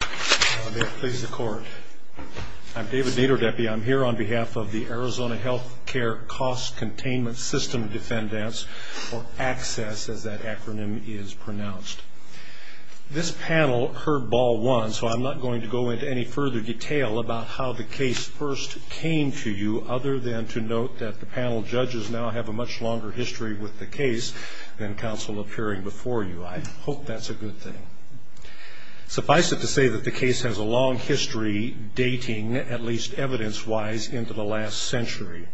I'm David Naderdepe. I'm here on behalf of the Arizona Health Care Cost Containment System Defendants, or ACCESS as that acronym is pronounced. This panel heard Ball once, so I'm not going to go into any further detail about how the case first came to you, other than to note that the panel judges now have a much longer history with the case than counsel appearing before you. I hope that's a good thing. Suffice it to say that the case has a long history dating, at least evidence-wise, into the last century.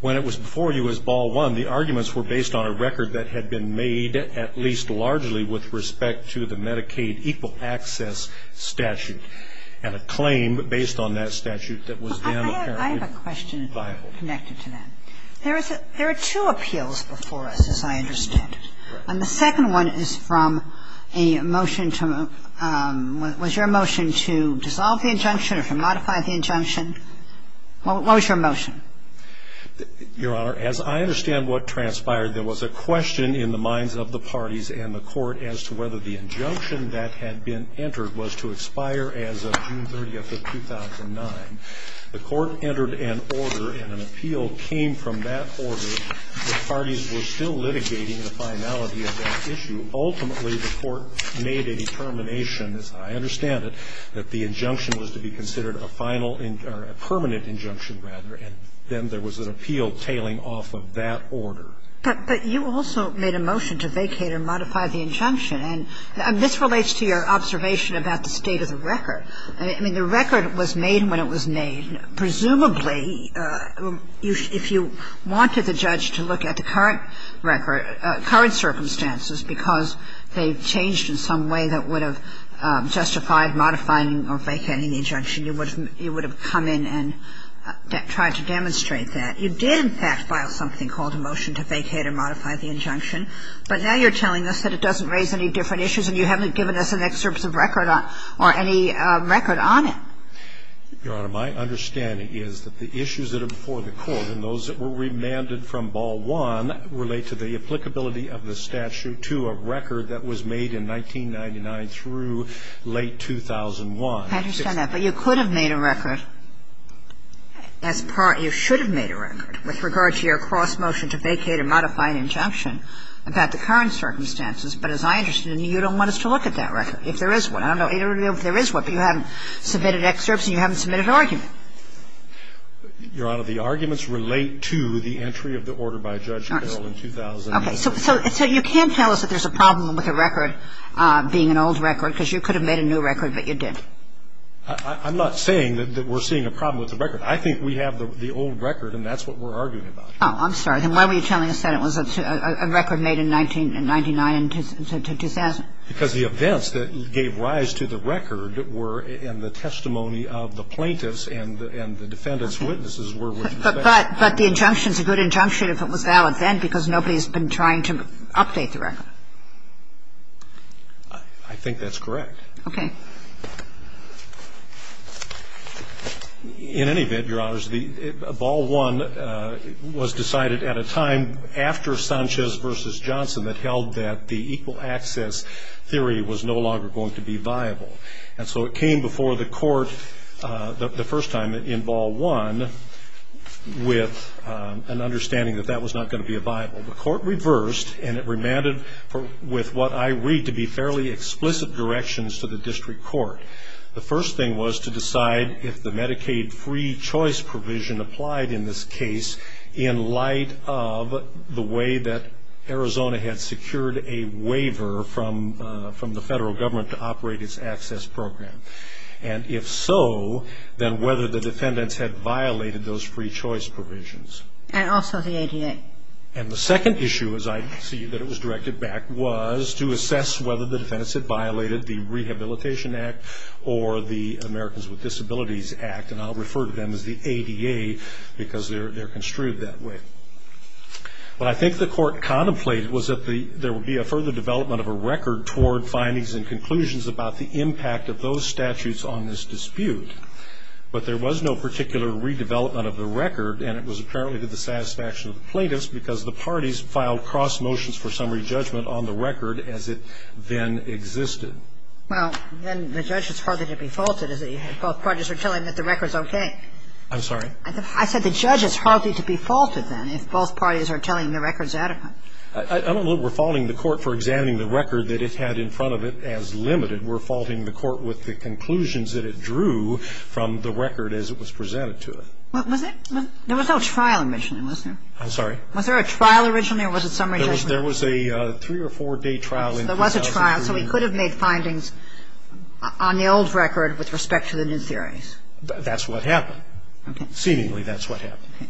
When it was before you as Ball 1, the arguments were based on a record that had been made at least largely with respect to the Medicaid Equal Access Statute, and a claim based on that statute that was then apparently viable. and a claim based on that statute that was then apparently viable. There are two appeals before us, as I understand. And the second one is from a motion to ñ was your motion to dissolve the injunction or to modify the injunction? What was your motion? Your Honor, as I understand what transpired, there was a question in the minds of the parties and the Court as to whether the injunction that had been entered was to expire as of June 30th of 2009. The Court entered an order, and an appeal came from that order. The parties were still litigating the finality of that issue. Ultimately, the Court made a determination, as I understand it, that the injunction was to be considered a final ñ or a permanent injunction, rather, and then there was an appeal tailing off of that order. But you also made a motion to vacate or modify the injunction. And this relates to your observation about the state of the record. I mean, the record was made when it was made. Presumably, if you wanted the judge to look at the current record ñ current circumstances, because they changed in some way that would have justified modifying or vacating the injunction, you would have come in and tried to demonstrate that. You did, in fact, file something called a motion to vacate or modify the injunction. But now you're telling us that it doesn't raise any different issues and you haven't given us an excerpt of record on ñ or any record on it. Your Honor, my understanding is that the issues that are before the Court and those that were remanded from Ball One relate to the applicability of the statute to a record that was made in 1999 through late 2001. I understand that. But you could have made a record as part ñ you should have made a record with regard to your cross-motion to vacate or modify an injunction about the current circumstances. But as I understand it, you don't want us to look at that record, if there is one. I don't know if there is one, but you haven't submitted excerpts and you haven't submitted an argument. Your Honor, the arguments relate to the entry of the order by Judge Carroll in 2001. Okay. So you can't tell us that there's a problem with a record being an old record because you could have made a new record, but you didn't. I'm not saying that we're seeing a problem with the record. I think we have the old record and that's what we're arguing about. Oh, I'm sorry. Then why were you telling us that it was a record made in 1999 to 2000? Because the events that gave rise to the record were in the testimony of the plaintiffs and the defendant's witnesses were with respect. But the injunction is a good injunction if it was valid then, because nobody has been trying to update the record. I think that's correct. Okay. In any event, Your Honors, Ball One was decided at a time after Sanchez v. Johnson that held that the equal access theory was no longer going to be viable. And so it came before the court the first time in Ball One with an understanding that that was not going to be viable. The court reversed and it remanded with what I read to be fairly explicit directions to the district court. The first thing was to decide if the Medicaid free choice provision applied in this case in light of the way that Arizona had secured a waiver from the federal government to operate its access program. And if so, then whether the defendants had violated those free choice provisions. And also the ADA. And the second issue, as I see that it was directed back, was to assess whether the defendants had violated the Rehabilitation Act or the Americans with Disabilities Act. And I'll refer to them as the ADA because they're construed that way. What I think the court contemplated was that there would be a further development of a record toward findings and conclusions about the impact of those statutes on this dispute. But there was no particular redevelopment of the record. And it was apparently to the satisfaction of the plaintiffs because the parties filed cross motions for summary judgment on the record as it then existed. Well, then the judge is hardly to be faulted if both parties are telling him that the record's okay. I'm sorry? I said the judge is hardly to be faulted then if both parties are telling him the record's adequate. I don't know if we're faulting the court for examining the record that it had in front of it as limited. We're faulting the court with the conclusions that it drew from the record as it was presented to it. There was no trial initially, was there? I'm sorry? Was there a trial originally or was it summary judgment? There was a three or four-day trial in 2003. So there was a trial. So he could have made findings on the old record with respect to the new theories. That's what happened. Okay. Seemingly that's what happened. Okay.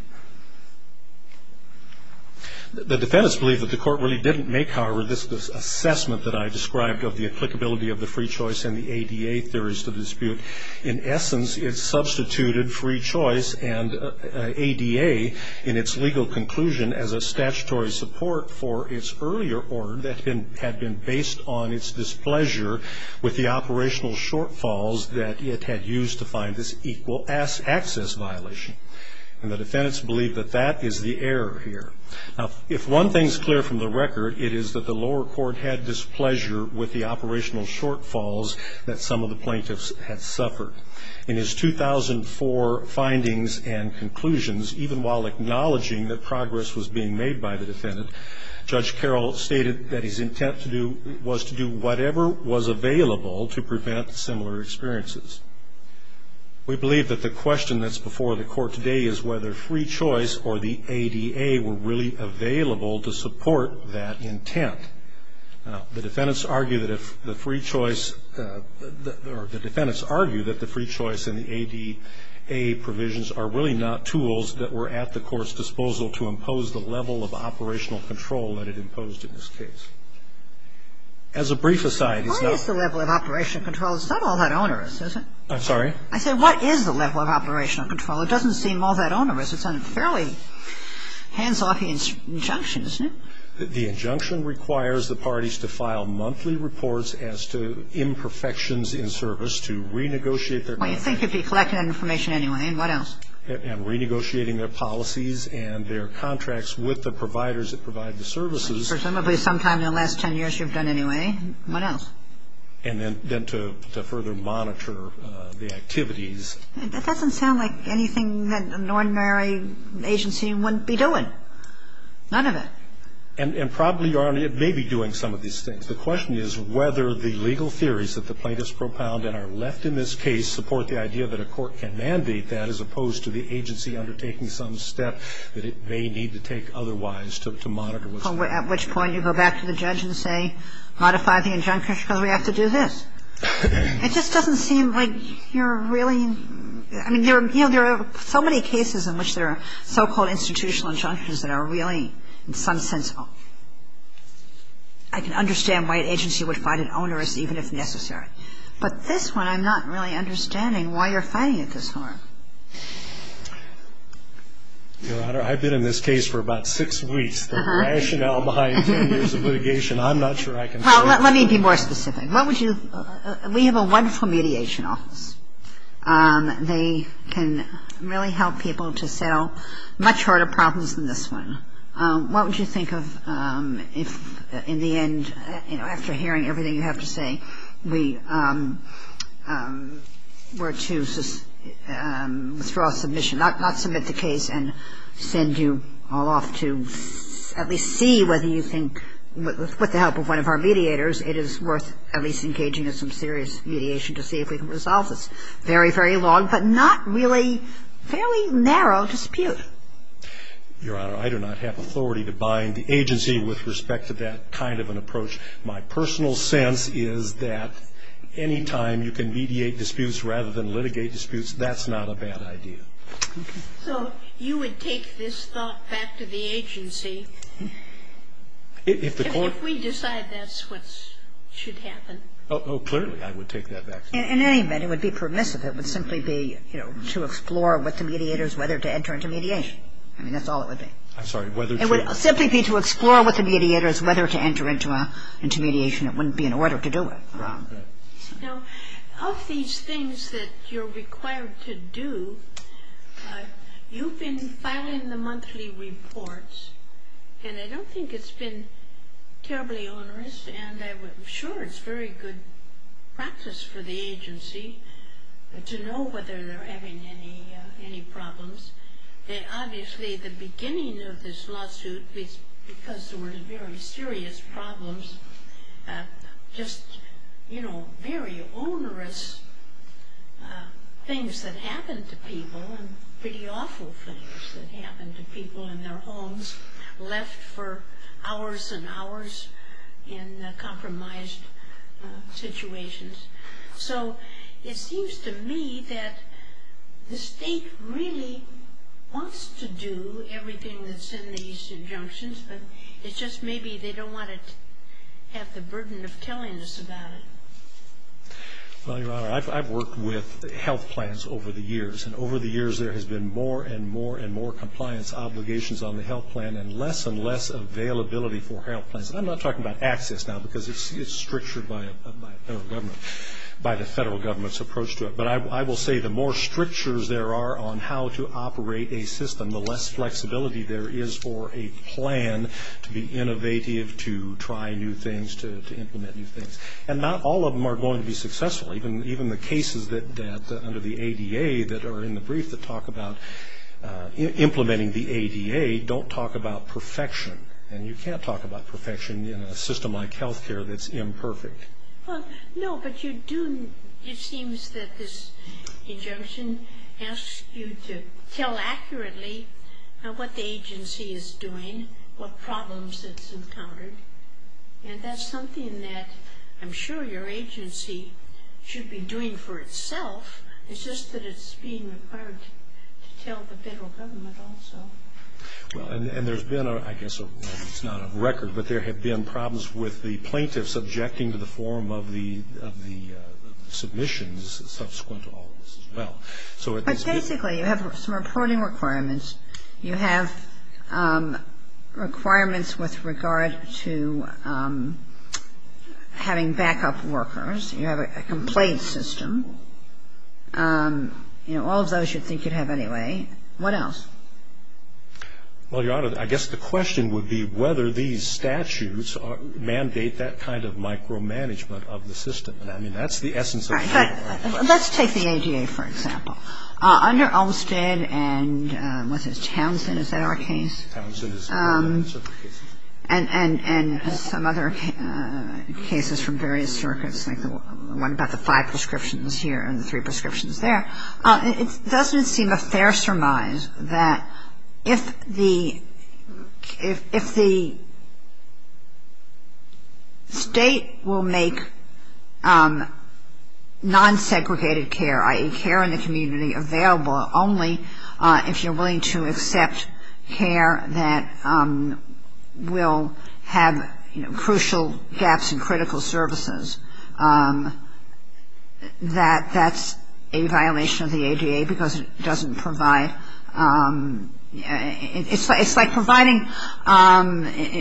The defendants believe that the court really didn't make, however, this assessment that I described of the applicability of the free choice and the ADA theories to the dispute. In essence, it substituted free choice and ADA in its legal conclusion as a statutory support for its earlier order that had been based on its displeasure with the operational shortfalls that it had used to find this equal access violation. And the defendants believe that that is the error here. Now, if one thing is clear from the record, it is that the lower court had displeasure with the operational shortfalls that some of the plaintiffs had suffered. In his 2004 findings and conclusions, even while acknowledging that progress was being made by the defendant, Judge Carroll stated that his intent was to do whatever was available to prevent similar experiences. We believe that the question that's before the court today is whether free choice or the ADA were really available to support that intent. Now, the defendants argue that if the free choice or the defendants argue that the free choice and the ADA provisions are really not tools that were at the court's disposal to impose the level of operational control that it imposed in this case. As a brief aside, it's not. It's not all that onerous, is it? I'm sorry? I said what is the level of operational control? It doesn't seem all that onerous. It's a fairly hands-off injunction, isn't it? The injunction requires the parties to file monthly reports as to imperfections in service to renegotiate their contract. Well, you'd think you'd be collecting that information anyway. And what else? And renegotiating their policies and their contracts with the providers that provide the services. Presumably sometime in the last 10 years you've done anyway. What else? And then to further monitor the activities. That doesn't sound like anything that an ordinary agency wouldn't be doing. None of it. And probably it may be doing some of these things. The question is whether the legal theories that the plaintiffs propound and are left in this case support the idea that a court can mandate that as opposed to the agency undertaking some step that it may need to take otherwise to monitor. At which point you go back to the judge and say modify the injunctions because we have to do this. It just doesn't seem like you're really – I mean there are so many cases in which there are so-called institutional injunctions that are really in some sense – I can understand why an agency would find it onerous even if necessary. But this one I'm not really understanding why you're finding it this hard. Your Honor, I've been in this case for about six weeks. The rationale behind 10 years of litigation I'm not sure I can tell you. Well, let me be more specific. What would you – we have a wonderful mediation office. They can really help people to settle much harder problems than this one. What would you think of if in the end, you know, after hearing everything you have to say, we were to withdraw a submission, not submit the case and send you all off to at least see whether you think with the help of one of our mediators it is worth at least engaging in some serious mediation to see if we can resolve this very, very long but not really fairly narrow dispute? Your Honor, I do not have authority to bind the agency with respect to that kind of an approach. My personal sense is that any time you can mediate disputes rather than litigate disputes, that's not a bad idea. So you would take this thought back to the agency if we decide that's what should happen? Oh, clearly I would take that back. In any event, it would be permissive. It would simply be, you know, to explore with the mediators whether to enter into mediation. I mean, that's all it would be. I'm sorry, whether to? It would simply be to explore with the mediators whether to enter into mediation. It wouldn't be an order to do it. Now, of these things that you're required to do, you've been filing the monthly reports, and I don't think it's been terribly onerous, and I'm sure it's very good practice for the agency. To know whether they're having any problems. Obviously, the beginning of this lawsuit, because there were very serious problems, just, you know, very onerous things that happened to people, and pretty awful things that happened to people in their homes, left for hours and hours in compromised situations. So it seems to me that the state really wants to do everything that's in these injunctions, but it's just maybe they don't want to have the burden of telling us about it. Well, Your Honor, I've worked with health plans over the years, and over the years there has been more and more and more compliance obligations on the health plan, and less and less availability for health plans. I'm not talking about access now, because it's strictured by the federal government's approach to it, but I will say the more strictures there are on how to operate a system, the less flexibility there is for a plan to be innovative, to try new things, to implement new things. And not all of them are going to be successful. Even the cases under the ADA that are in the brief that talk about implementing the ADA don't talk about perfection, and you can't talk about perfection in a system like health care that's imperfect. Well, no, but you do. It seems that this injunction asks you to tell accurately what the agency is doing, what problems it's encountered, and that's something that I'm sure your agency should be doing for itself. It's just that it's being required to tell the federal government also. Well, and there's been, I guess, it's not a record, but there have been problems with the plaintiffs objecting to the form of the submissions subsequent to all of this as well. But basically you have some reporting requirements. You have requirements with regard to having backup workers. You have a complaint system. You know, all of those you'd think you'd have anyway. What else? Well, Your Honor, I guess the question would be whether these statutes mandate that kind of micromanagement of the system. I mean, that's the essence of the problem. Let's take the ADA, for example. Under Olmstead and what's his, Townsend, is that our case? Townsend is one of the names of the cases. And some other cases from various circuits, like the one about the five prescriptions here and the three prescriptions there. It doesn't seem a fair surmise that if the state will make non-segregated care, i.e., care in the community available only if you're willing to accept care that will have, you know, because it doesn't provide. It's like providing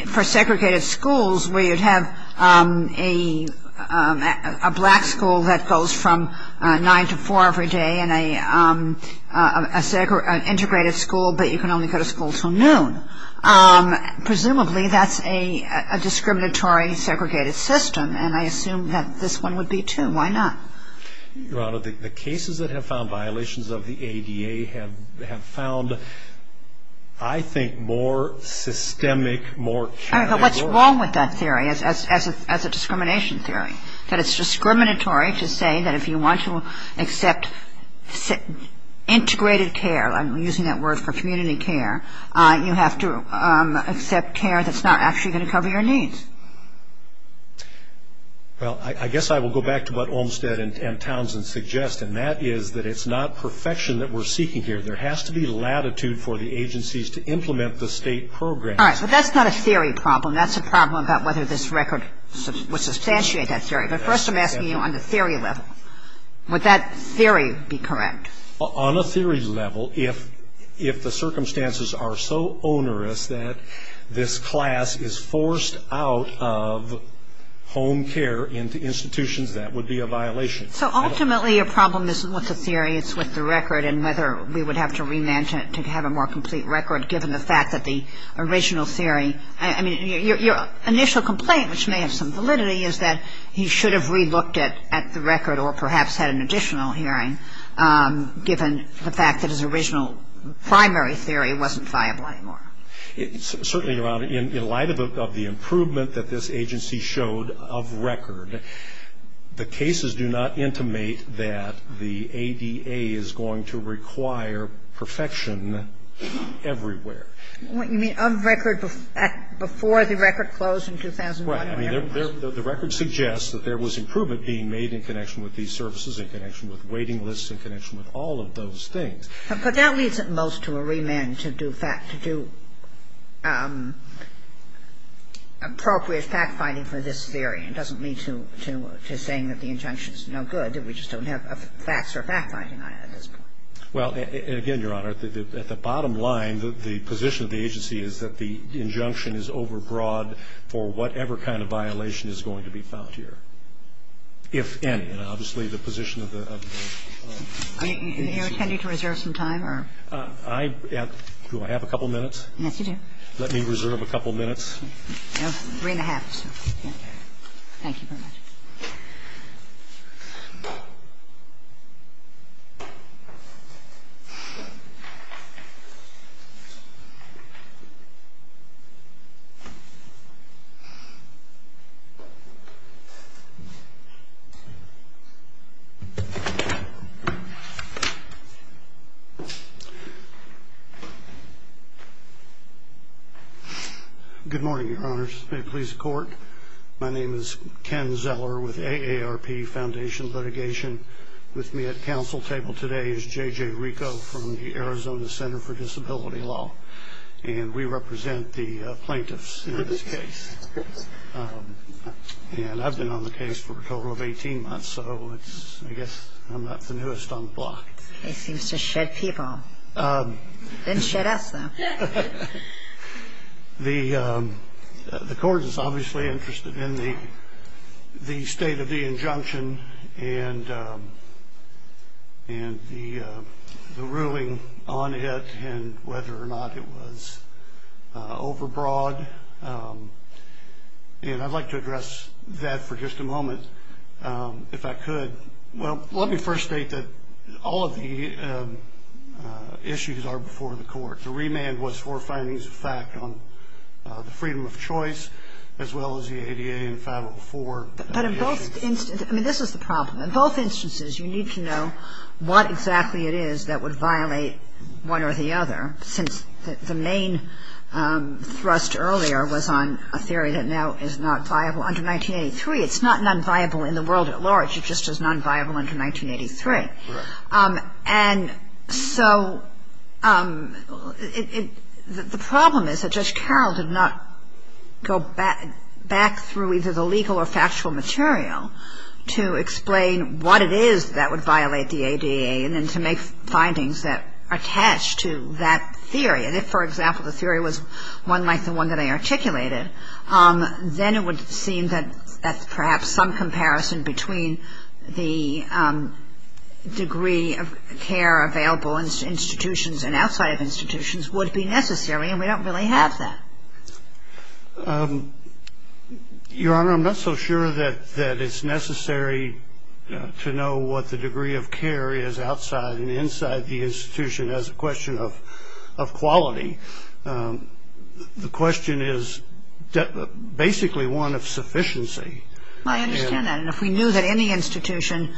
for segregated schools where you'd have a black school that goes from nine to four every day and an integrated school, but you can only go to school until noon. Presumably that's a discriminatory segregated system, and I assume that this one would be too. Why not? Your Honor, the cases that have found violations of the ADA have found, I think, more systemic, more What's wrong with that theory as a discrimination theory? That it's discriminatory to say that if you want to accept integrated care, I'm using that word for community care, you have to accept care that's not actually going to cover your needs. Well, I guess I will go back to what Olmstead and Townsend suggest, and that is that it's not perfection that we're seeking here. There has to be latitude for the agencies to implement the state program. All right, but that's not a theory problem. That's a problem about whether this record would substantiate that theory. But first I'm asking you on the theory level. Would that theory be correct? On a theory level, if the circumstances are so onerous that this class is forced out of home care into institutions, that would be a violation. So ultimately your problem isn't with the theory, it's with the record and whether we would have to re-mention it to have a more complete record, given the fact that the original theory I mean, your initial complaint, which may have some validity, is that he should have re-looked at the record or perhaps had an additional hearing, given the fact that his original primary theory wasn't viable anymore. Certainly, Your Honor, in light of the improvement that this agency showed of record, the cases do not intimate that the ADA is going to require perfection everywhere. You mean of record before the record closed in 2001? Right. I mean, the record suggests that there was improvement being made in connection with these services, in connection with waiting lists, in connection with all of those things. But that leads at most to a remand to do appropriate fact-finding for this theory. It doesn't lead to saying that the injunction is no good, that we just don't have facts or fact-finding on it at this point. Well, again, Your Honor, at the bottom line, I mean, the position of the agency is that the injunction is overbroad for whatever kind of violation is going to be found here, if any. And obviously, the position of the agency. Are you intending to reserve some time? Do I have a couple minutes? Yes, you do. Let me reserve a couple minutes. Three and a half. Thank you very much. No. Good morning, Your Honors. My name is Ken Zeller with AARP Foundation Litigation. With me at counsel table today is J.J. Rico from the Arizona Center for Disability Law. And we represent the plaintiffs in this case. And I've been on the case for a total of 18 months, so I guess I'm not the newest on the block. He seems to shed people. Didn't shed us, though. The court is obviously interested in the state of the injunction and the ruling on it and whether or not it was overbroad. And I'd like to address that for just a moment, if I could. Well, let me first state that all of the issues are before the court. The remand was for findings of fact on the freedom of choice, as well as the ADA and Favreau IV. But in both instances, I mean, this is the problem. In both instances, you need to know what exactly it is that would violate one or the other, since the main thrust earlier was on a theory that now is not viable under 1983. It's not nonviable in the world at large. It just is nonviable under 1983. Right. And so the problem is that Judge Carroll did not go back through either the legal or factual material to explain what it is that would violate the ADA and then to make findings that are attached to that theory. And if, for example, the theory was one like the one that I articulated, then it would seem that perhaps some comparison between the degree of care available in institutions and outside of institutions would be necessary, and we don't really have that. Your Honor, I'm not so sure that it's necessary to know what the degree of care is outside and inside the institution as a question of quality. The question is basically one of sufficiency. I understand that. And if we knew that in the institution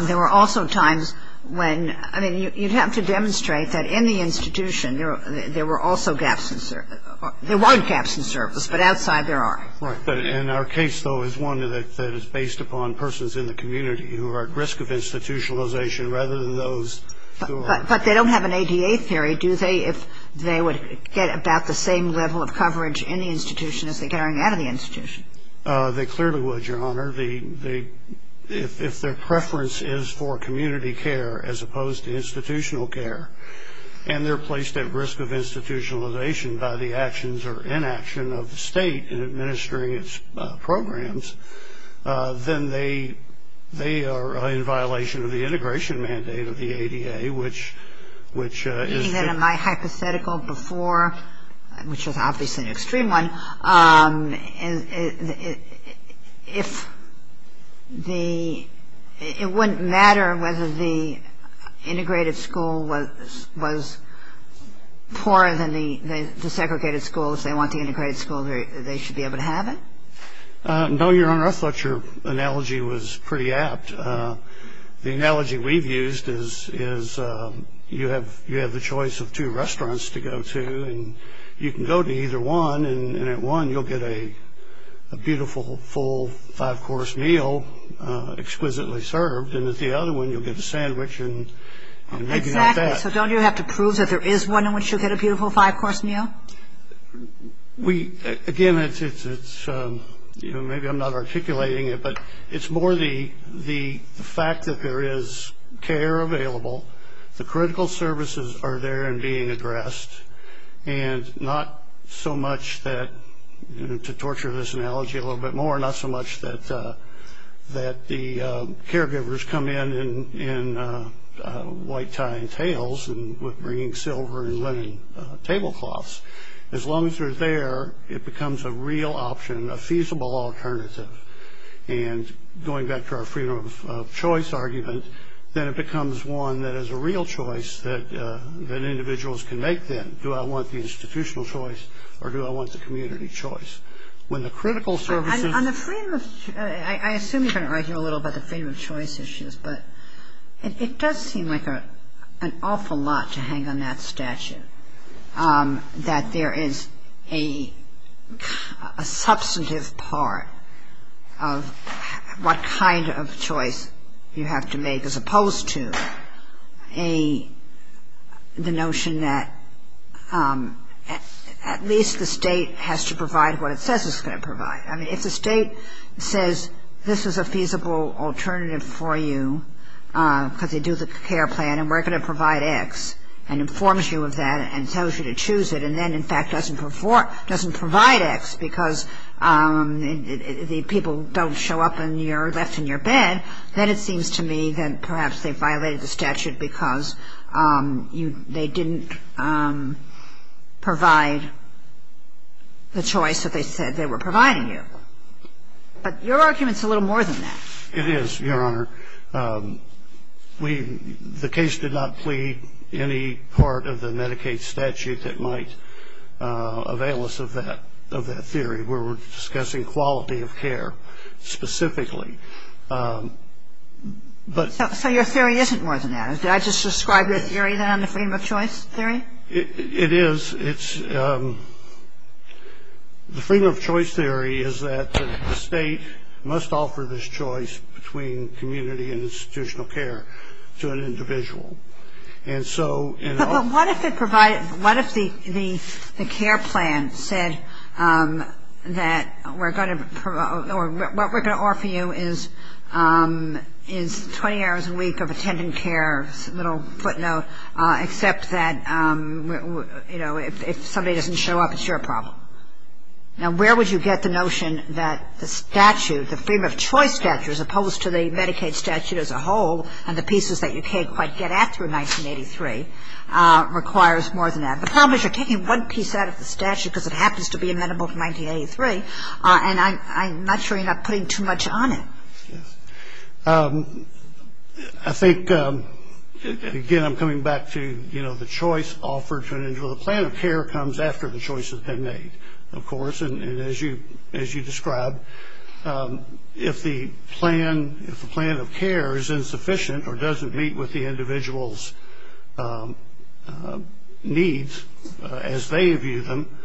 there were also times when, I mean, you'd have to demonstrate that in the institution there were also gaps in service. There weren't gaps in service, but outside there are. Right. And our case, though, is one that is based upon persons in the community who are at risk of institutionalization rather than those who are. But they don't have an ADA theory, do they? If they would get about the same level of coverage in the institution as they're getting out of the institution. They clearly would, Your Honor. If their preference is for community care as opposed to institutional care and they're placed at risk of institutionalization by the actions or inaction of the state in administering its programs, then they are in violation of the integration mandate of the ADA, which is the my hypothetical before, which is obviously an extreme one. If the – it wouldn't matter whether the integrated school was poorer than the segregated school. If they want the integrated school, they should be able to have it? No, Your Honor. I thought your analogy was pretty apt. The analogy we've used is you have the choice of two restaurants to go to and you can go to either one and at one you'll get a beautiful full five-course meal exquisitely served and at the other one you'll get a sandwich and – Exactly. So don't you have to prove that there is one in which you'll get a beautiful five-course meal? We – again, it's – maybe I'm not articulating it, but it's more the fact that there is care available, the critical services are there and being addressed, and not so much that – to torture this analogy a little bit more – not so much that the caregivers come in in white tie and tails and bringing silver and linen tablecloths. As long as they're there, it becomes a real option, a feasible alternative. And going back to our freedom of choice argument, then it becomes one that is a real choice that individuals can make then. Do I want the institutional choice or do I want the community choice? When the critical services – On the freedom of – I assume you're going to argue a little about the freedom of choice issues, but it does seem like an awful lot to hang on that statute, that there is a substantive part of what kind of choice you have to make, as opposed to the notion that at least the state has to provide what it says it's going to provide. I mean, if the state says this is a feasible alternative for you because they do the care plan and we're going to provide X and informs you of that and tells you to choose it and then in fact doesn't provide X because the people don't show up and you're left in your bed, then it seems to me that perhaps they violated the statute because they didn't provide the choice that they said they were providing you. But your argument is a little more than that. It is, Your Honor. The case did not plead any part of the Medicaid statute that might avail us of that theory. We were discussing quality of care specifically. So your theory isn't more than that? Did I just describe your theory then, the freedom of choice theory? It is. The freedom of choice theory is that the state must offer this choice between community and institutional care to an individual. But what if it provided, what if the care plan said that we're going to, or what we're going to offer you is 20 hours a week of attendant care, little footnote, except that, you know, if somebody doesn't show up, it's your problem. Now, where would you get the notion that the statute, the freedom of choice statute, as opposed to the Medicaid statute as a whole and the pieces that you can't quite get after 1983 requires more than that? The problem is you're taking one piece out of the statute because it happens to be amenable to 1983, and I'm not sure you're not putting too much on it. Yes. I think, again, I'm coming back to, you know, the choice offered to an individual. The plan of care comes after the choice has been made, of course. And as you described, if the plan of care is insufficient or doesn't meet with the individual's needs as they view them,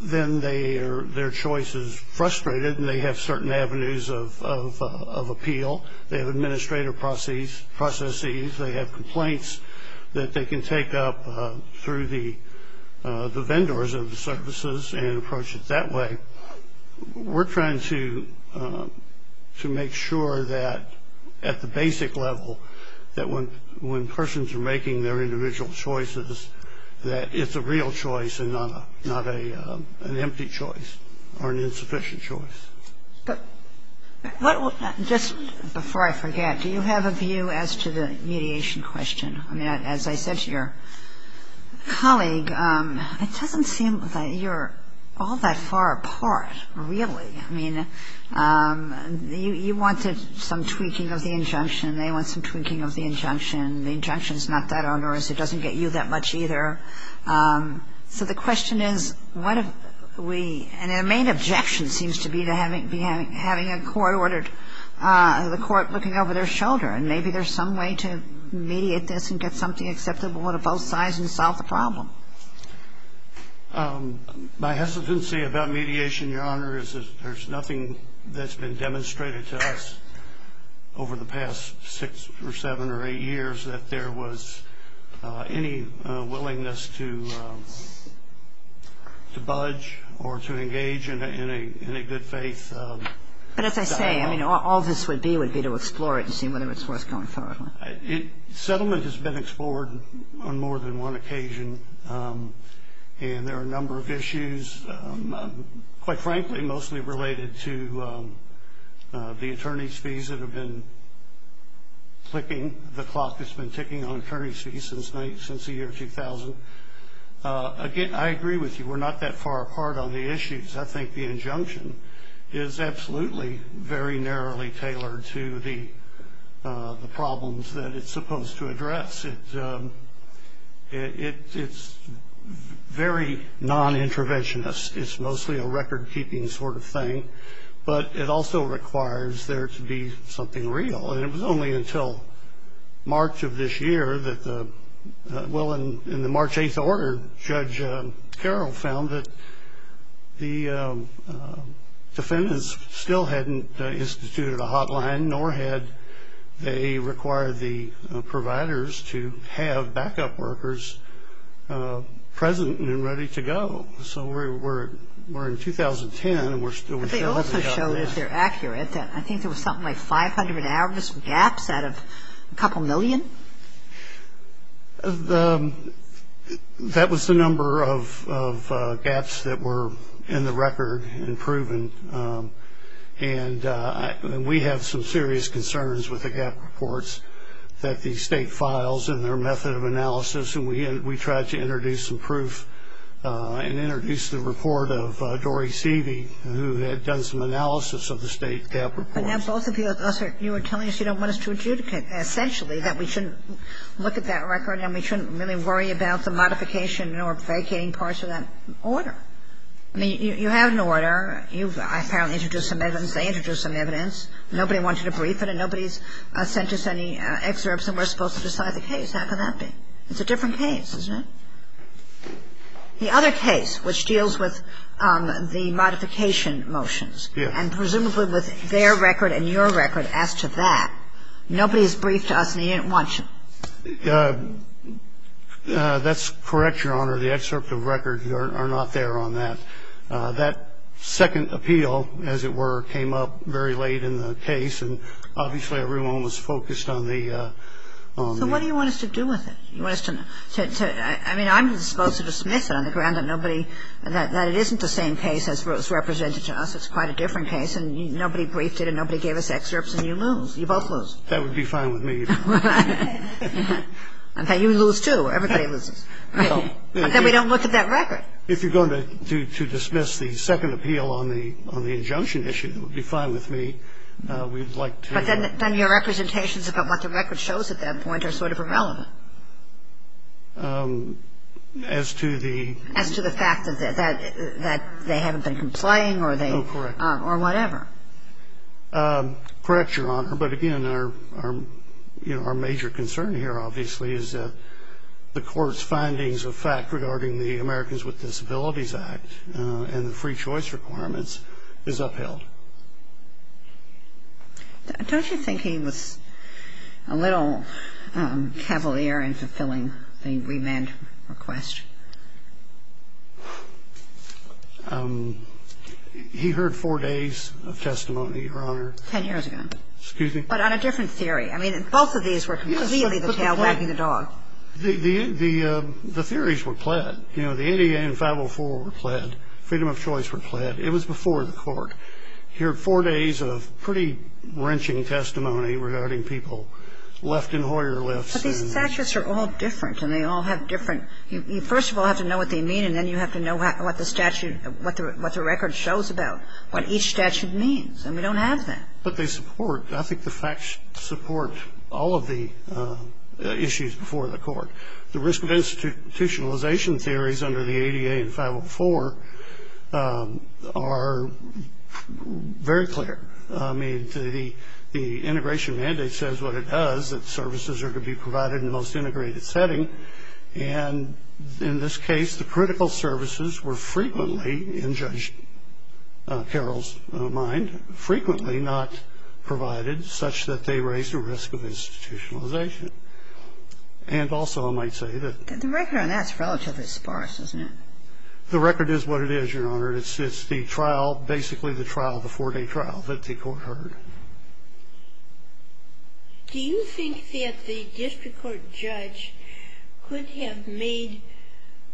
then their choice is frustrated, and they have certain avenues of appeal. They have administrative processes. They have complaints that they can take up through the vendors of the services and approach it that way. We're trying to make sure that at the basic level, that when persons are making their individual choices, that it's a real choice and not an empty choice or an insufficient choice. Just before I forget, do you have a view as to the mediation question? I mean, as I said to your colleague, it doesn't seem that you're all that far apart, really. I mean, you wanted some tweaking of the injunction, and they want some tweaking of the injunction. The injunction is not that onerous. It doesn't get you that much either. So the question is, what if we – and the main objection seems to be to having a court ordered – the court looking over their shoulder, and maybe there's some way to mediate this and get something acceptable to both sides and solve the problem. My hesitancy about mediation, Your Honor, is that there's nothing that's been demonstrated to us over the past six or seven or eight years that there was any willingness to budge or to engage in a good-faith style. But as I say, I mean, all this would be would be to explore it and see whether it's worth going forward with. Settlement has been explored on more than one occasion, and there are a number of issues, quite frankly, mostly related to the attorney's fees that have been clicking. The clock has been ticking on attorney's fees since the year 2000. Again, I agree with you. We're not that far apart on the issues. I think the injunction is absolutely very narrowly tailored to the problems that it's supposed to address. It's very non-interventionist. It's mostly a record-keeping sort of thing. But it also requires there to be something real. And it was only until March of this year that the ñ well, in the March 8th order, Judge Carroll found that the defendants still hadn't instituted a hotline, nor had they required the providers to have backup workers present and ready to go. So we're in 2010, and we're still working on this. But they also showed, if they're accurate, that I think there was something like 500 average gaps out of a couple million. That was the number of gaps that were in the record and proven. And we have some serious concerns with the gap reports that the state files in their method of analysis, and we tried to introduce some proof and introduce the report of Dory Seavey, who had done some analysis of the state gap reports. But now both of you are telling us you don't want us to adjudicate, essentially that we shouldn't look at that record and we shouldn't really worry about the modification or vacating parts of that order. I mean, you have an order. You've apparently introduced some evidence. They introduced some evidence. Nobody wanted to brief it, and nobody's sent us any excerpts, and we're supposed to decide the case. How can that be? It's a different case, isn't it? The other case, which deals with the modification motions, and presumably with their record and your record as to that, nobody has briefed us, and they didn't want you. That's correct, Your Honor. The excerpt of record are not there on that. That second appeal, as it were, came up very late in the case, and obviously everyone was focused on the ‑‑ So what do you want us to do with it? You want us to ‑‑ I mean, I'm supposed to dismiss it on the ground that nobody ‑‑ that it isn't the same case as what was represented to us. It's quite a different case, and nobody briefed it, and nobody gave us excerpts, and you lose. You both lose. That would be fine with me. In fact, you lose, too. Everybody loses. But then we don't look at that record. If you're going to dismiss the second appeal on the injunction issue, that would be fine with me. We'd like to ‑‑ Then your representations about what the record shows at that point are sort of irrelevant. As to the ‑‑ As to the fact that they haven't been complying or they ‑‑ Oh, correct. Or whatever. Correct, Your Honor. But, again, our major concern here, obviously, is that the court's findings of fact regarding the Americans with Disabilities Act and the free choice requirements is upheld. Don't you think he was a little cavalier in fulfilling the remand request? He heard four days of testimony, Your Honor. Ten years ago. Excuse me? But on a different theory. I mean, both of these were completely the tail wagging the dog. The theories were pled. You know, the ADA and 504 were pled. Freedom of choice were pled. It was before the court. He heard four days of pretty wrenching testimony regarding people left in Hoyer lifts. But these statutes are all different and they all have different ‑‑ You first of all have to know what they mean and then you have to know what the statute, what the record shows about what each statute means. And we don't have that. But they support, I think the facts support all of the issues before the court. The risk of institutionalization theories under the ADA and 504 are very clear. I mean, the integration mandate says what it does, that services are to be provided in the most integrated setting. And in this case, the critical services were frequently, in Judge Carroll's mind, frequently not provided such that they raise the risk of institutionalization. And also I might say that ‑‑ The record on that is relatively sparse, isn't it? The record is what it is, Your Honor. It's the trial, basically the trial, the four‑day trial that the court heard. Do you think that the district court judge could have made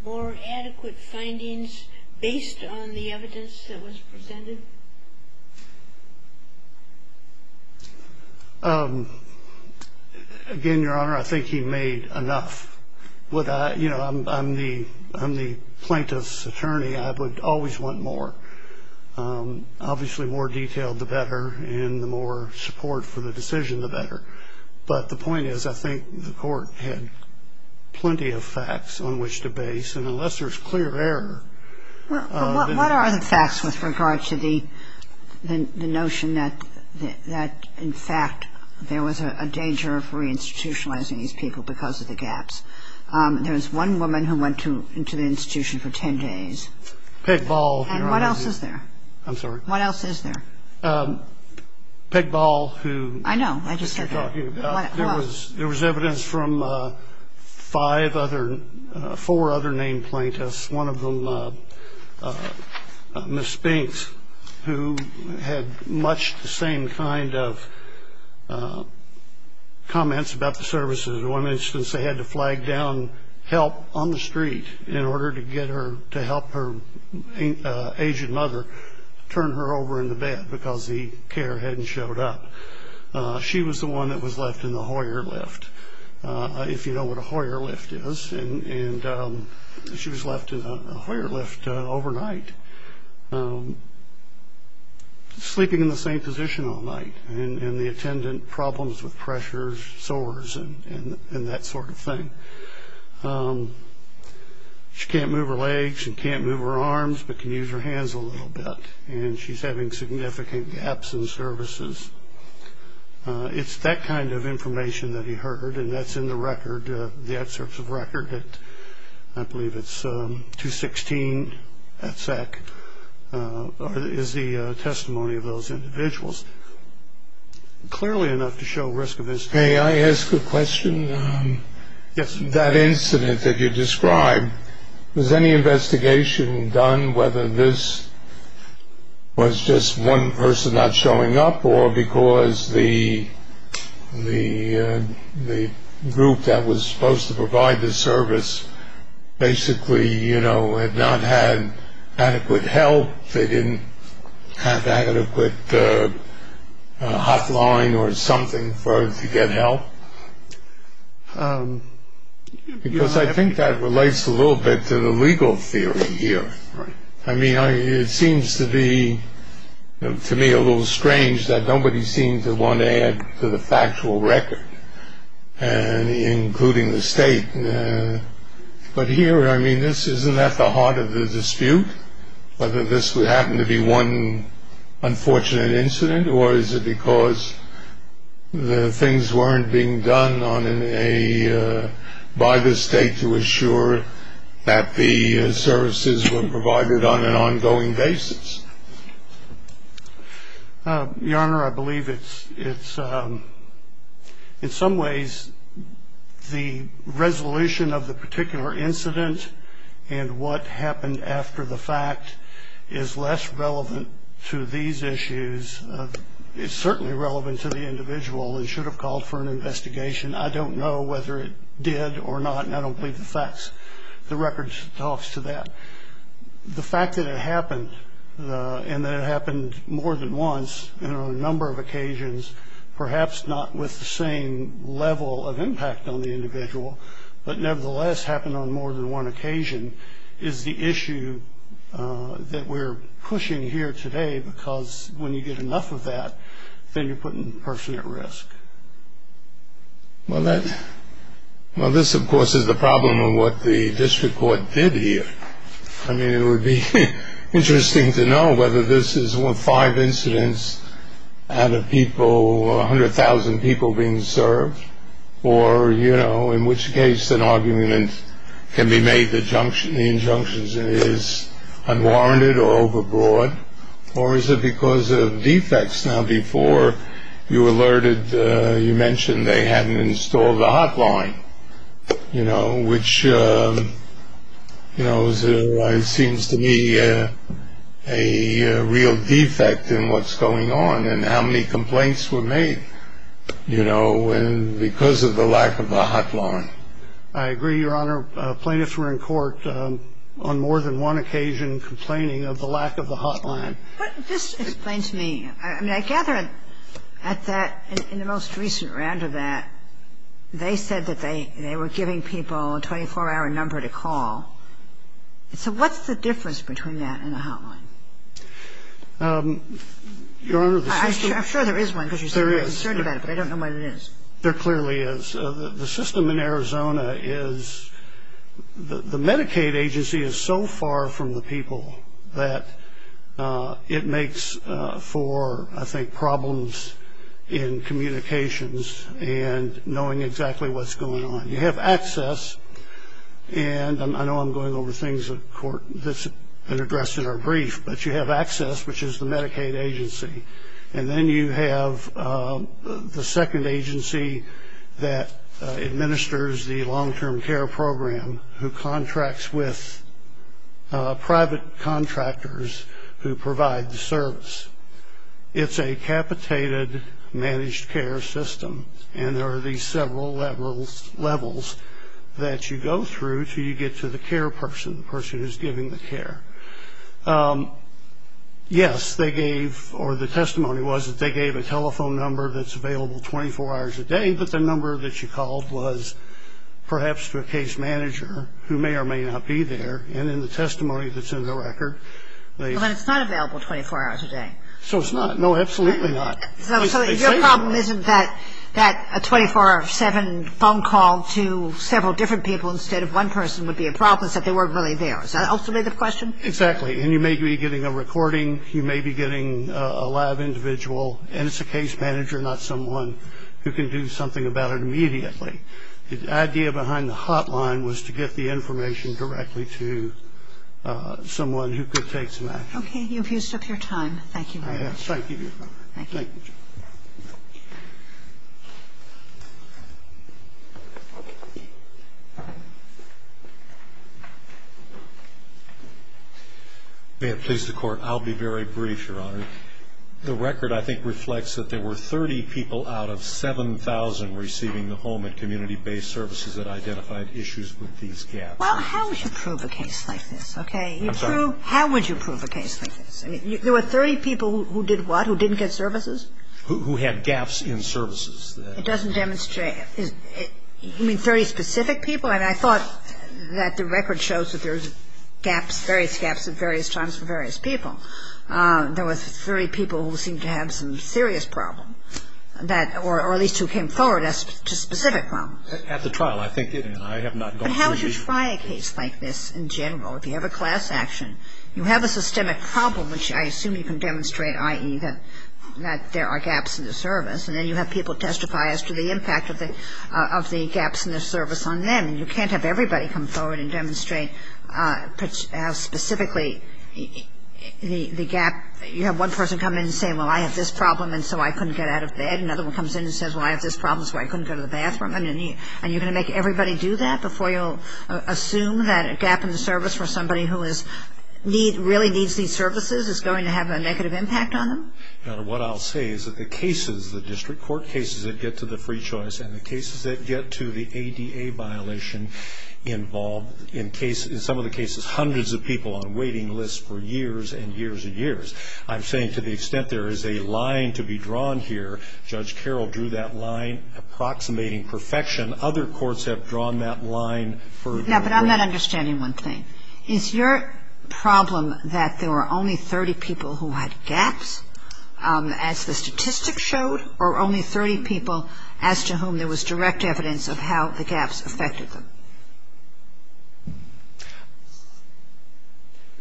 more adequate findings based on the evidence that was presented? Again, Your Honor, I think he made enough. You know, I'm the plaintiff's attorney. I would always want more. Obviously, the more detailed, the better. And the more support for the decision, the better. But the point is I think the court had plenty of facts on which to base. And unless there's clear error ‑‑ Well, what are the facts with regard to the notion that, in fact, there was a danger of reinstitutionalizing these people because of the gaps? There was one woman who went into the institution for 10 days. Peg Ball, Your Honor. And what else is there? I'm sorry? What else is there? Peg Ball, who ‑‑ I know, I just heard that. There was evidence from five other ‑‑ four other named plaintiffs, one of them, Ms. Spinks, who had much the same kind of comments about the services. In one instance, they had to flag down help on the street in order to get her to help her Asian mother turn her over in the bed because the care hadn't showed up. She was the one that was left in the Hoyer lift, if you know what a Hoyer lift is. And she was left in a Hoyer lift overnight, sleeping in the same position all night. And the attendant problems with pressure, sores, and that sort of thing. She can't move her legs and can't move her arms but can use her hands a little bit. And she's having significant gaps in services. It's that kind of information that he heard, and that's in the record, the excerpts of record at, I believe it's 216 at SEC, is the testimony of those individuals. Clearly enough to show risk of incident. May I ask a question? Yes, sir. That incident that you described, was any investigation done whether this was just one person not showing up or because the group that was supposed to provide the service basically had not had adequate help, they didn't have adequate hotline or something to get help? Because I think that relates a little bit to the legal theory here. I mean, it seems to be to me a little strange that nobody seemed to want to add to the factual record, including the state. But here, I mean, isn't that the heart of the dispute? Whether this happened to be one unfortunate incident or is it because the things weren't being done by the state to assure that the services were provided on an ongoing basis? Your Honor, I believe it's, in some ways, the resolution of the particular incident and what happened after the fact is less relevant to these issues. It's certainly relevant to the individual and should have called for an investigation. I don't know whether it did or not, and I don't believe the record talks to that. The fact that it happened and that it happened more than once and on a number of occasions, perhaps not with the same level of impact on the individual, but nevertheless happened on more than one occasion is the issue that we're pushing here today because when you get enough of that, then you're putting the person at risk. Well, this, of course, is the problem of what the district court did here. I mean, it would be interesting to know whether this is five incidents out of 100,000 people being served or in which case an argument can be made, the injunction is unwarranted or overbroad, or is it because of defects? Now, before you alerted, you mentioned they hadn't installed the hotline, which seems to me a real defect in what's going on and how many complaints were made. You know, and because of the lack of the hotline. I agree, Your Honor. Plaintiffs were in court on more than one occasion complaining of the lack of the hotline. But this explains to me. I mean, I gather at that, in the most recent round of that, they said that they were giving people a 24-hour number to call. So what's the difference between that and the hotline? I'm sure there is one because you said... Yes, there is. I don't know what it is. There clearly is. The system in Arizona is the Medicaid agency is so far from the people that it makes for, I think, problems in communications and knowing exactly what's going on. You have access, and I know I'm going over things that are addressed in our brief, but you have access, which is the Medicaid agency, and then you have the second agency that administers the long-term care program who contracts with private contractors who provide the service. It's a capitated managed care system, and there are these several levels that you go through until you get to the care person, the person who's giving the care. Yes, they gave, or the testimony was that they gave a telephone number that's available 24 hours a day, but the number that you called was perhaps to a case manager who may or may not be there, and in the testimony that's in the record, they... Well, then it's not available 24 hours a day. So it's not. No, absolutely not. So your problem isn't that a 24-hour, 7-phone call to several different people instead of one person would be a problem, it's that they weren't really there. Is that also a good question? Exactly. And you may be getting a recording, you may be getting a lab individual, and it's a case manager, not someone who can do something about it immediately. The idea behind the hotline was to get the information directly to someone who could take some action. Okay. You've used up your time. Thank you very much. Thank you. Thank you, Your Honor. Thank you. May it please the Court. I'll be very brief, Your Honor. The record, I think, reflects that there were 30 people out of 7,000 receiving the home at community-based services that identified issues with these gaps. Well, how would you prove a case like this? Okay. I'm sorry. How would you prove a case like this? I mean, there were 30 people who did what, who didn't get services? Who had gaps in services. It doesn't demonstrate. You mean 30 specific people? I mean, I thought that the record shows that there's gaps, various gaps at various times for various people. There were 30 people who seemed to have some serious problem, or at least who came forward as to specific problems. At the trial, I think I have not gone through these. But how would you try a case like this in general? Well, if you have a class action, you have a systemic problem, which I assume you can demonstrate, i.e., that there are gaps in the service. And then you have people testify as to the impact of the gaps in the service on them. And you can't have everybody come forward and demonstrate specifically the gap. You have one person come in and say, well, I have this problem, and so I couldn't get out of bed. Another one comes in and says, well, I have this problem, so I couldn't go to the bathroom. And you're going to make everybody do that before you'll assume that a gap in the service for somebody who really needs these services is going to have a negative impact on them? What I'll say is that the cases, the district court cases that get to the free choice and the cases that get to the ADA violation involve, in some of the cases, hundreds of people on waiting lists for years and years and years. I'm saying to the extent there is a line to be drawn here, Judge Carroll drew that line, approximating perfection. Other courts have drawn that line for a very long time. Now, but I'm not understanding one thing. Is your problem that there were only 30 people who had gaps, as the statistics showed, or only 30 people as to whom there was direct evidence of how the gaps affected them?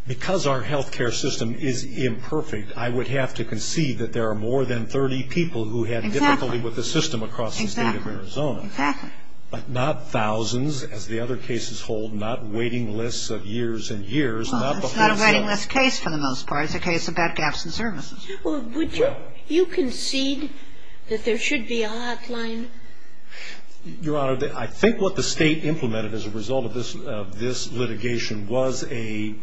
Because our health care system is imperfect, I would have to concede that there are more than 30 people who had difficulty with the system across the State of Arizona. Exactly. But not thousands, as the other cases hold, not waiting lists of years and years. Well, it's not a waiting list case for the most part. It's a case about gaps in services. Well, would you concede that there should be a hotline? Your Honor, I think what the State implemented as a result of this litigation was a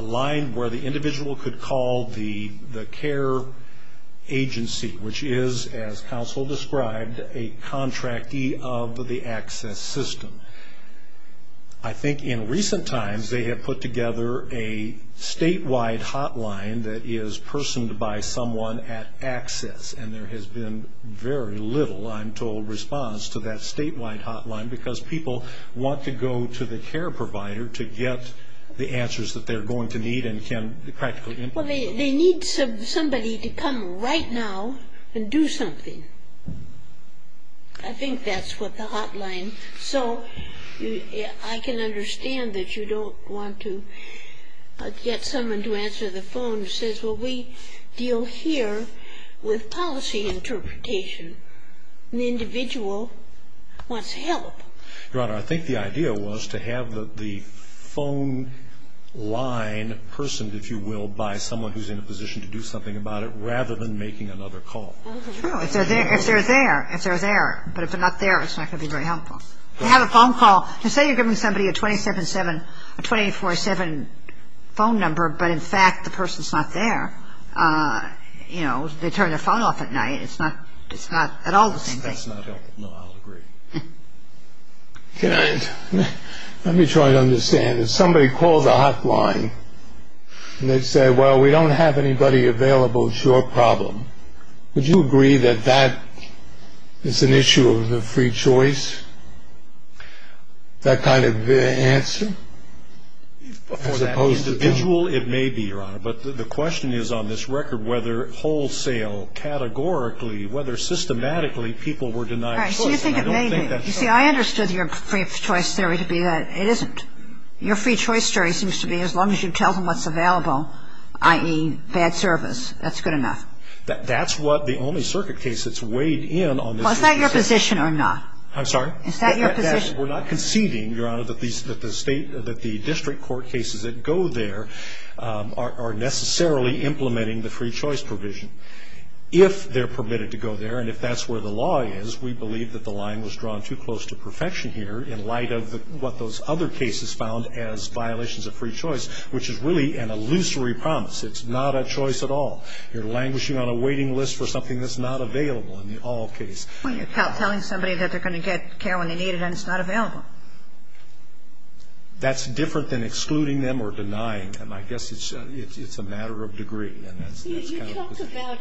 line where the individual could call the care agency, which is, as counsel described, a contractee of the ACCESS system. I think in recent times they have put together a statewide hotline that is personed by someone at ACCESS, and there has been very little, I'm told, response to that statewide hotline because people want to go to the care provider to get the answers that they're going to need and can't practically implement. Well, they need somebody to come right now and do something. I think that's what the hotline. So I can understand that you don't want to get someone to answer the phone who says, well, we deal here with policy interpretation. The individual wants help. Your Honor, I think the idea was to have the phone line personed, if you will, by someone who's in a position to do something about it rather than making another call. True. If they're there. If they're there. But if they're not there, it's not going to be very helpful. They have a phone call. Say you're giving somebody a 27-7, a 24-7 phone number, but in fact the person's not there. You know, they turn their phone off at night. It's not at all the same thing. That's not helpful. No, I'll agree. Let me try to understand. If somebody calls the hotline and they say, well, we don't have anybody available, it's your problem, would you agree that that is an issue of the free choice, that kind of answer? For that individual, it may be, Your Honor. But the question is on this record whether wholesale, categorically, whether systematically people were denied choice. All right. So you think it may be. You see, I understood your free choice theory to be that it isn't. Your free choice theory seems to be as long as you tell them what's available, i.e., bad service, that's good enough. That's what the only circuit case that's weighed in on this issue. Well, is that your position or not? I'm sorry? Is that your position? We're not conceding, Your Honor, that the district court cases that go there are necessarily implementing the free choice provision. If they're permitted to go there and if that's where the law is, we believe that the line was drawn too close to perfection here in light of what those other cases found as violations of free choice, which is really an illusory promise. It's not a choice at all. You're languishing on a waiting list for something that's not available in the all case. Well, you're telling somebody that they're going to get care when they need it and it's not available. That's different than excluding them or denying them. I guess it's a matter of degree. You talk about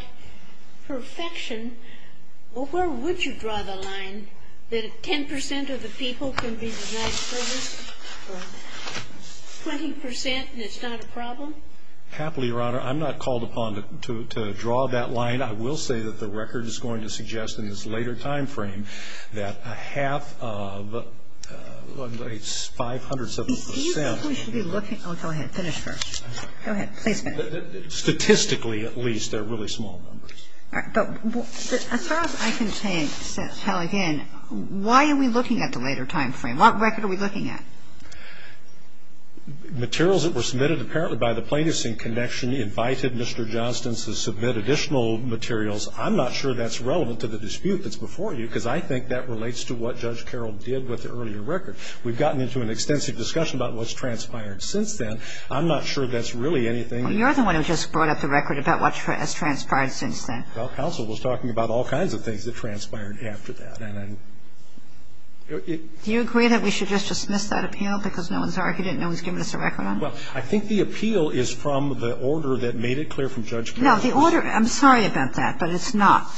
perfection. Well, where would you draw the line that 10 percent of the people can be denied service or 20 percent and it's not a problem? Happily, Your Honor, I'm not called upon to draw that line. I will say that the record is going to suggest in this later time frame that a half of 500 percent. Do you think we should be looking? Oh, go ahead. Finish first. Go ahead. Please finish. Statistically, at least, they're really small numbers. All right. But as far as I can tell again, why are we looking at the later time frame? What record are we looking at? Materials that were submitted apparently by the plaintiffs in connection invited Mr. Johnston to submit additional materials. I'm not sure that's relevant to the dispute that's before you because I think that relates to what Judge Carroll did with the earlier record. We've gotten into an extensive discussion about what's transpired since then. I'm not sure that's really anything. Well, you're the one who just brought up the record about what has transpired since then. Well, counsel was talking about all kinds of things that transpired after that. Do you agree that we should just dismiss that appeal because no one's argued it and no one's given us a record on it? Well, I think the appeal is from the order that made it clear from Judge Carroll. No, the order – I'm sorry about that, but it's not.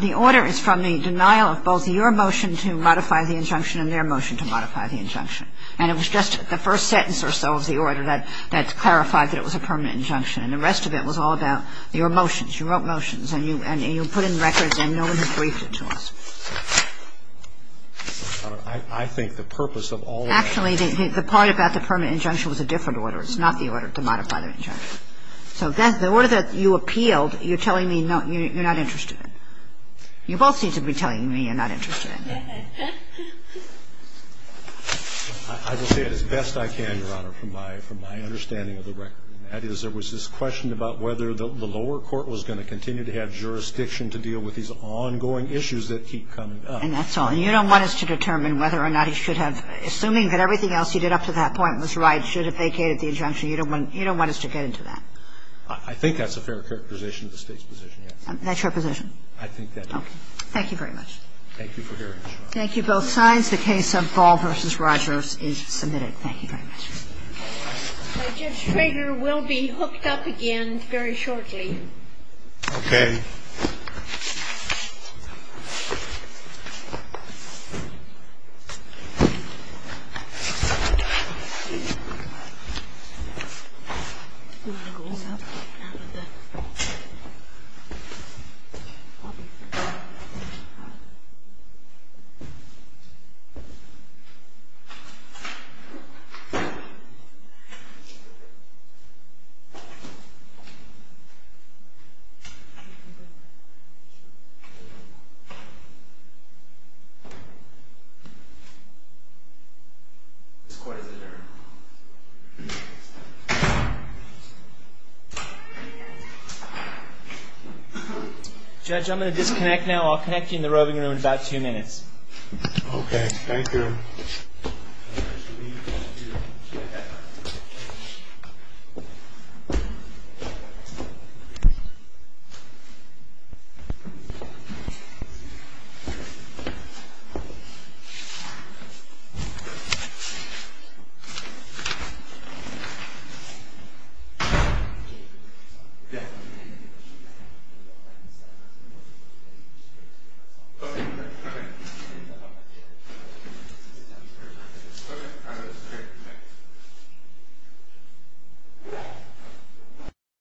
The order is from the denial of both your motion to modify the injunction and their motion to modify the injunction. And it was just the first sentence or so of the order that clarified that it was a permanent injunction. And the rest of it was all about your motions. You wrote motions and you put in records and no one had briefed it to us. I think the purpose of all of that – Actually, the part about the permanent injunction was a different order. It's not the order to modify the injunction. So the order that you appealed, you're telling me you're not interested in. You both seem to be telling me you're not interested in. I will say it as best I can, Your Honor, from my understanding of the record. And that is there was this question about whether the lower court was going to continue to have jurisdiction to deal with these ongoing issues that keep coming up. And that's all. And you don't want us to determine whether or not he should have – assuming that everything else he did up to that point was right, should have vacated the injunction, you don't want us to get into that? I think that's a fair characterization of the State's position, yes. That's your position? I think that is. Thank you very much. Thank you for hearing me. Thank you both sides. The case of Ball v. Rogers is submitted. Thank you very much. The registrator will be hooked up again very shortly. Okay. Judge, I'm going to disconnect now. I'll connect you in the roving room in about two minutes. Okay. Thank you. Thank you. Thank you. Okay. Thank you. Thank you.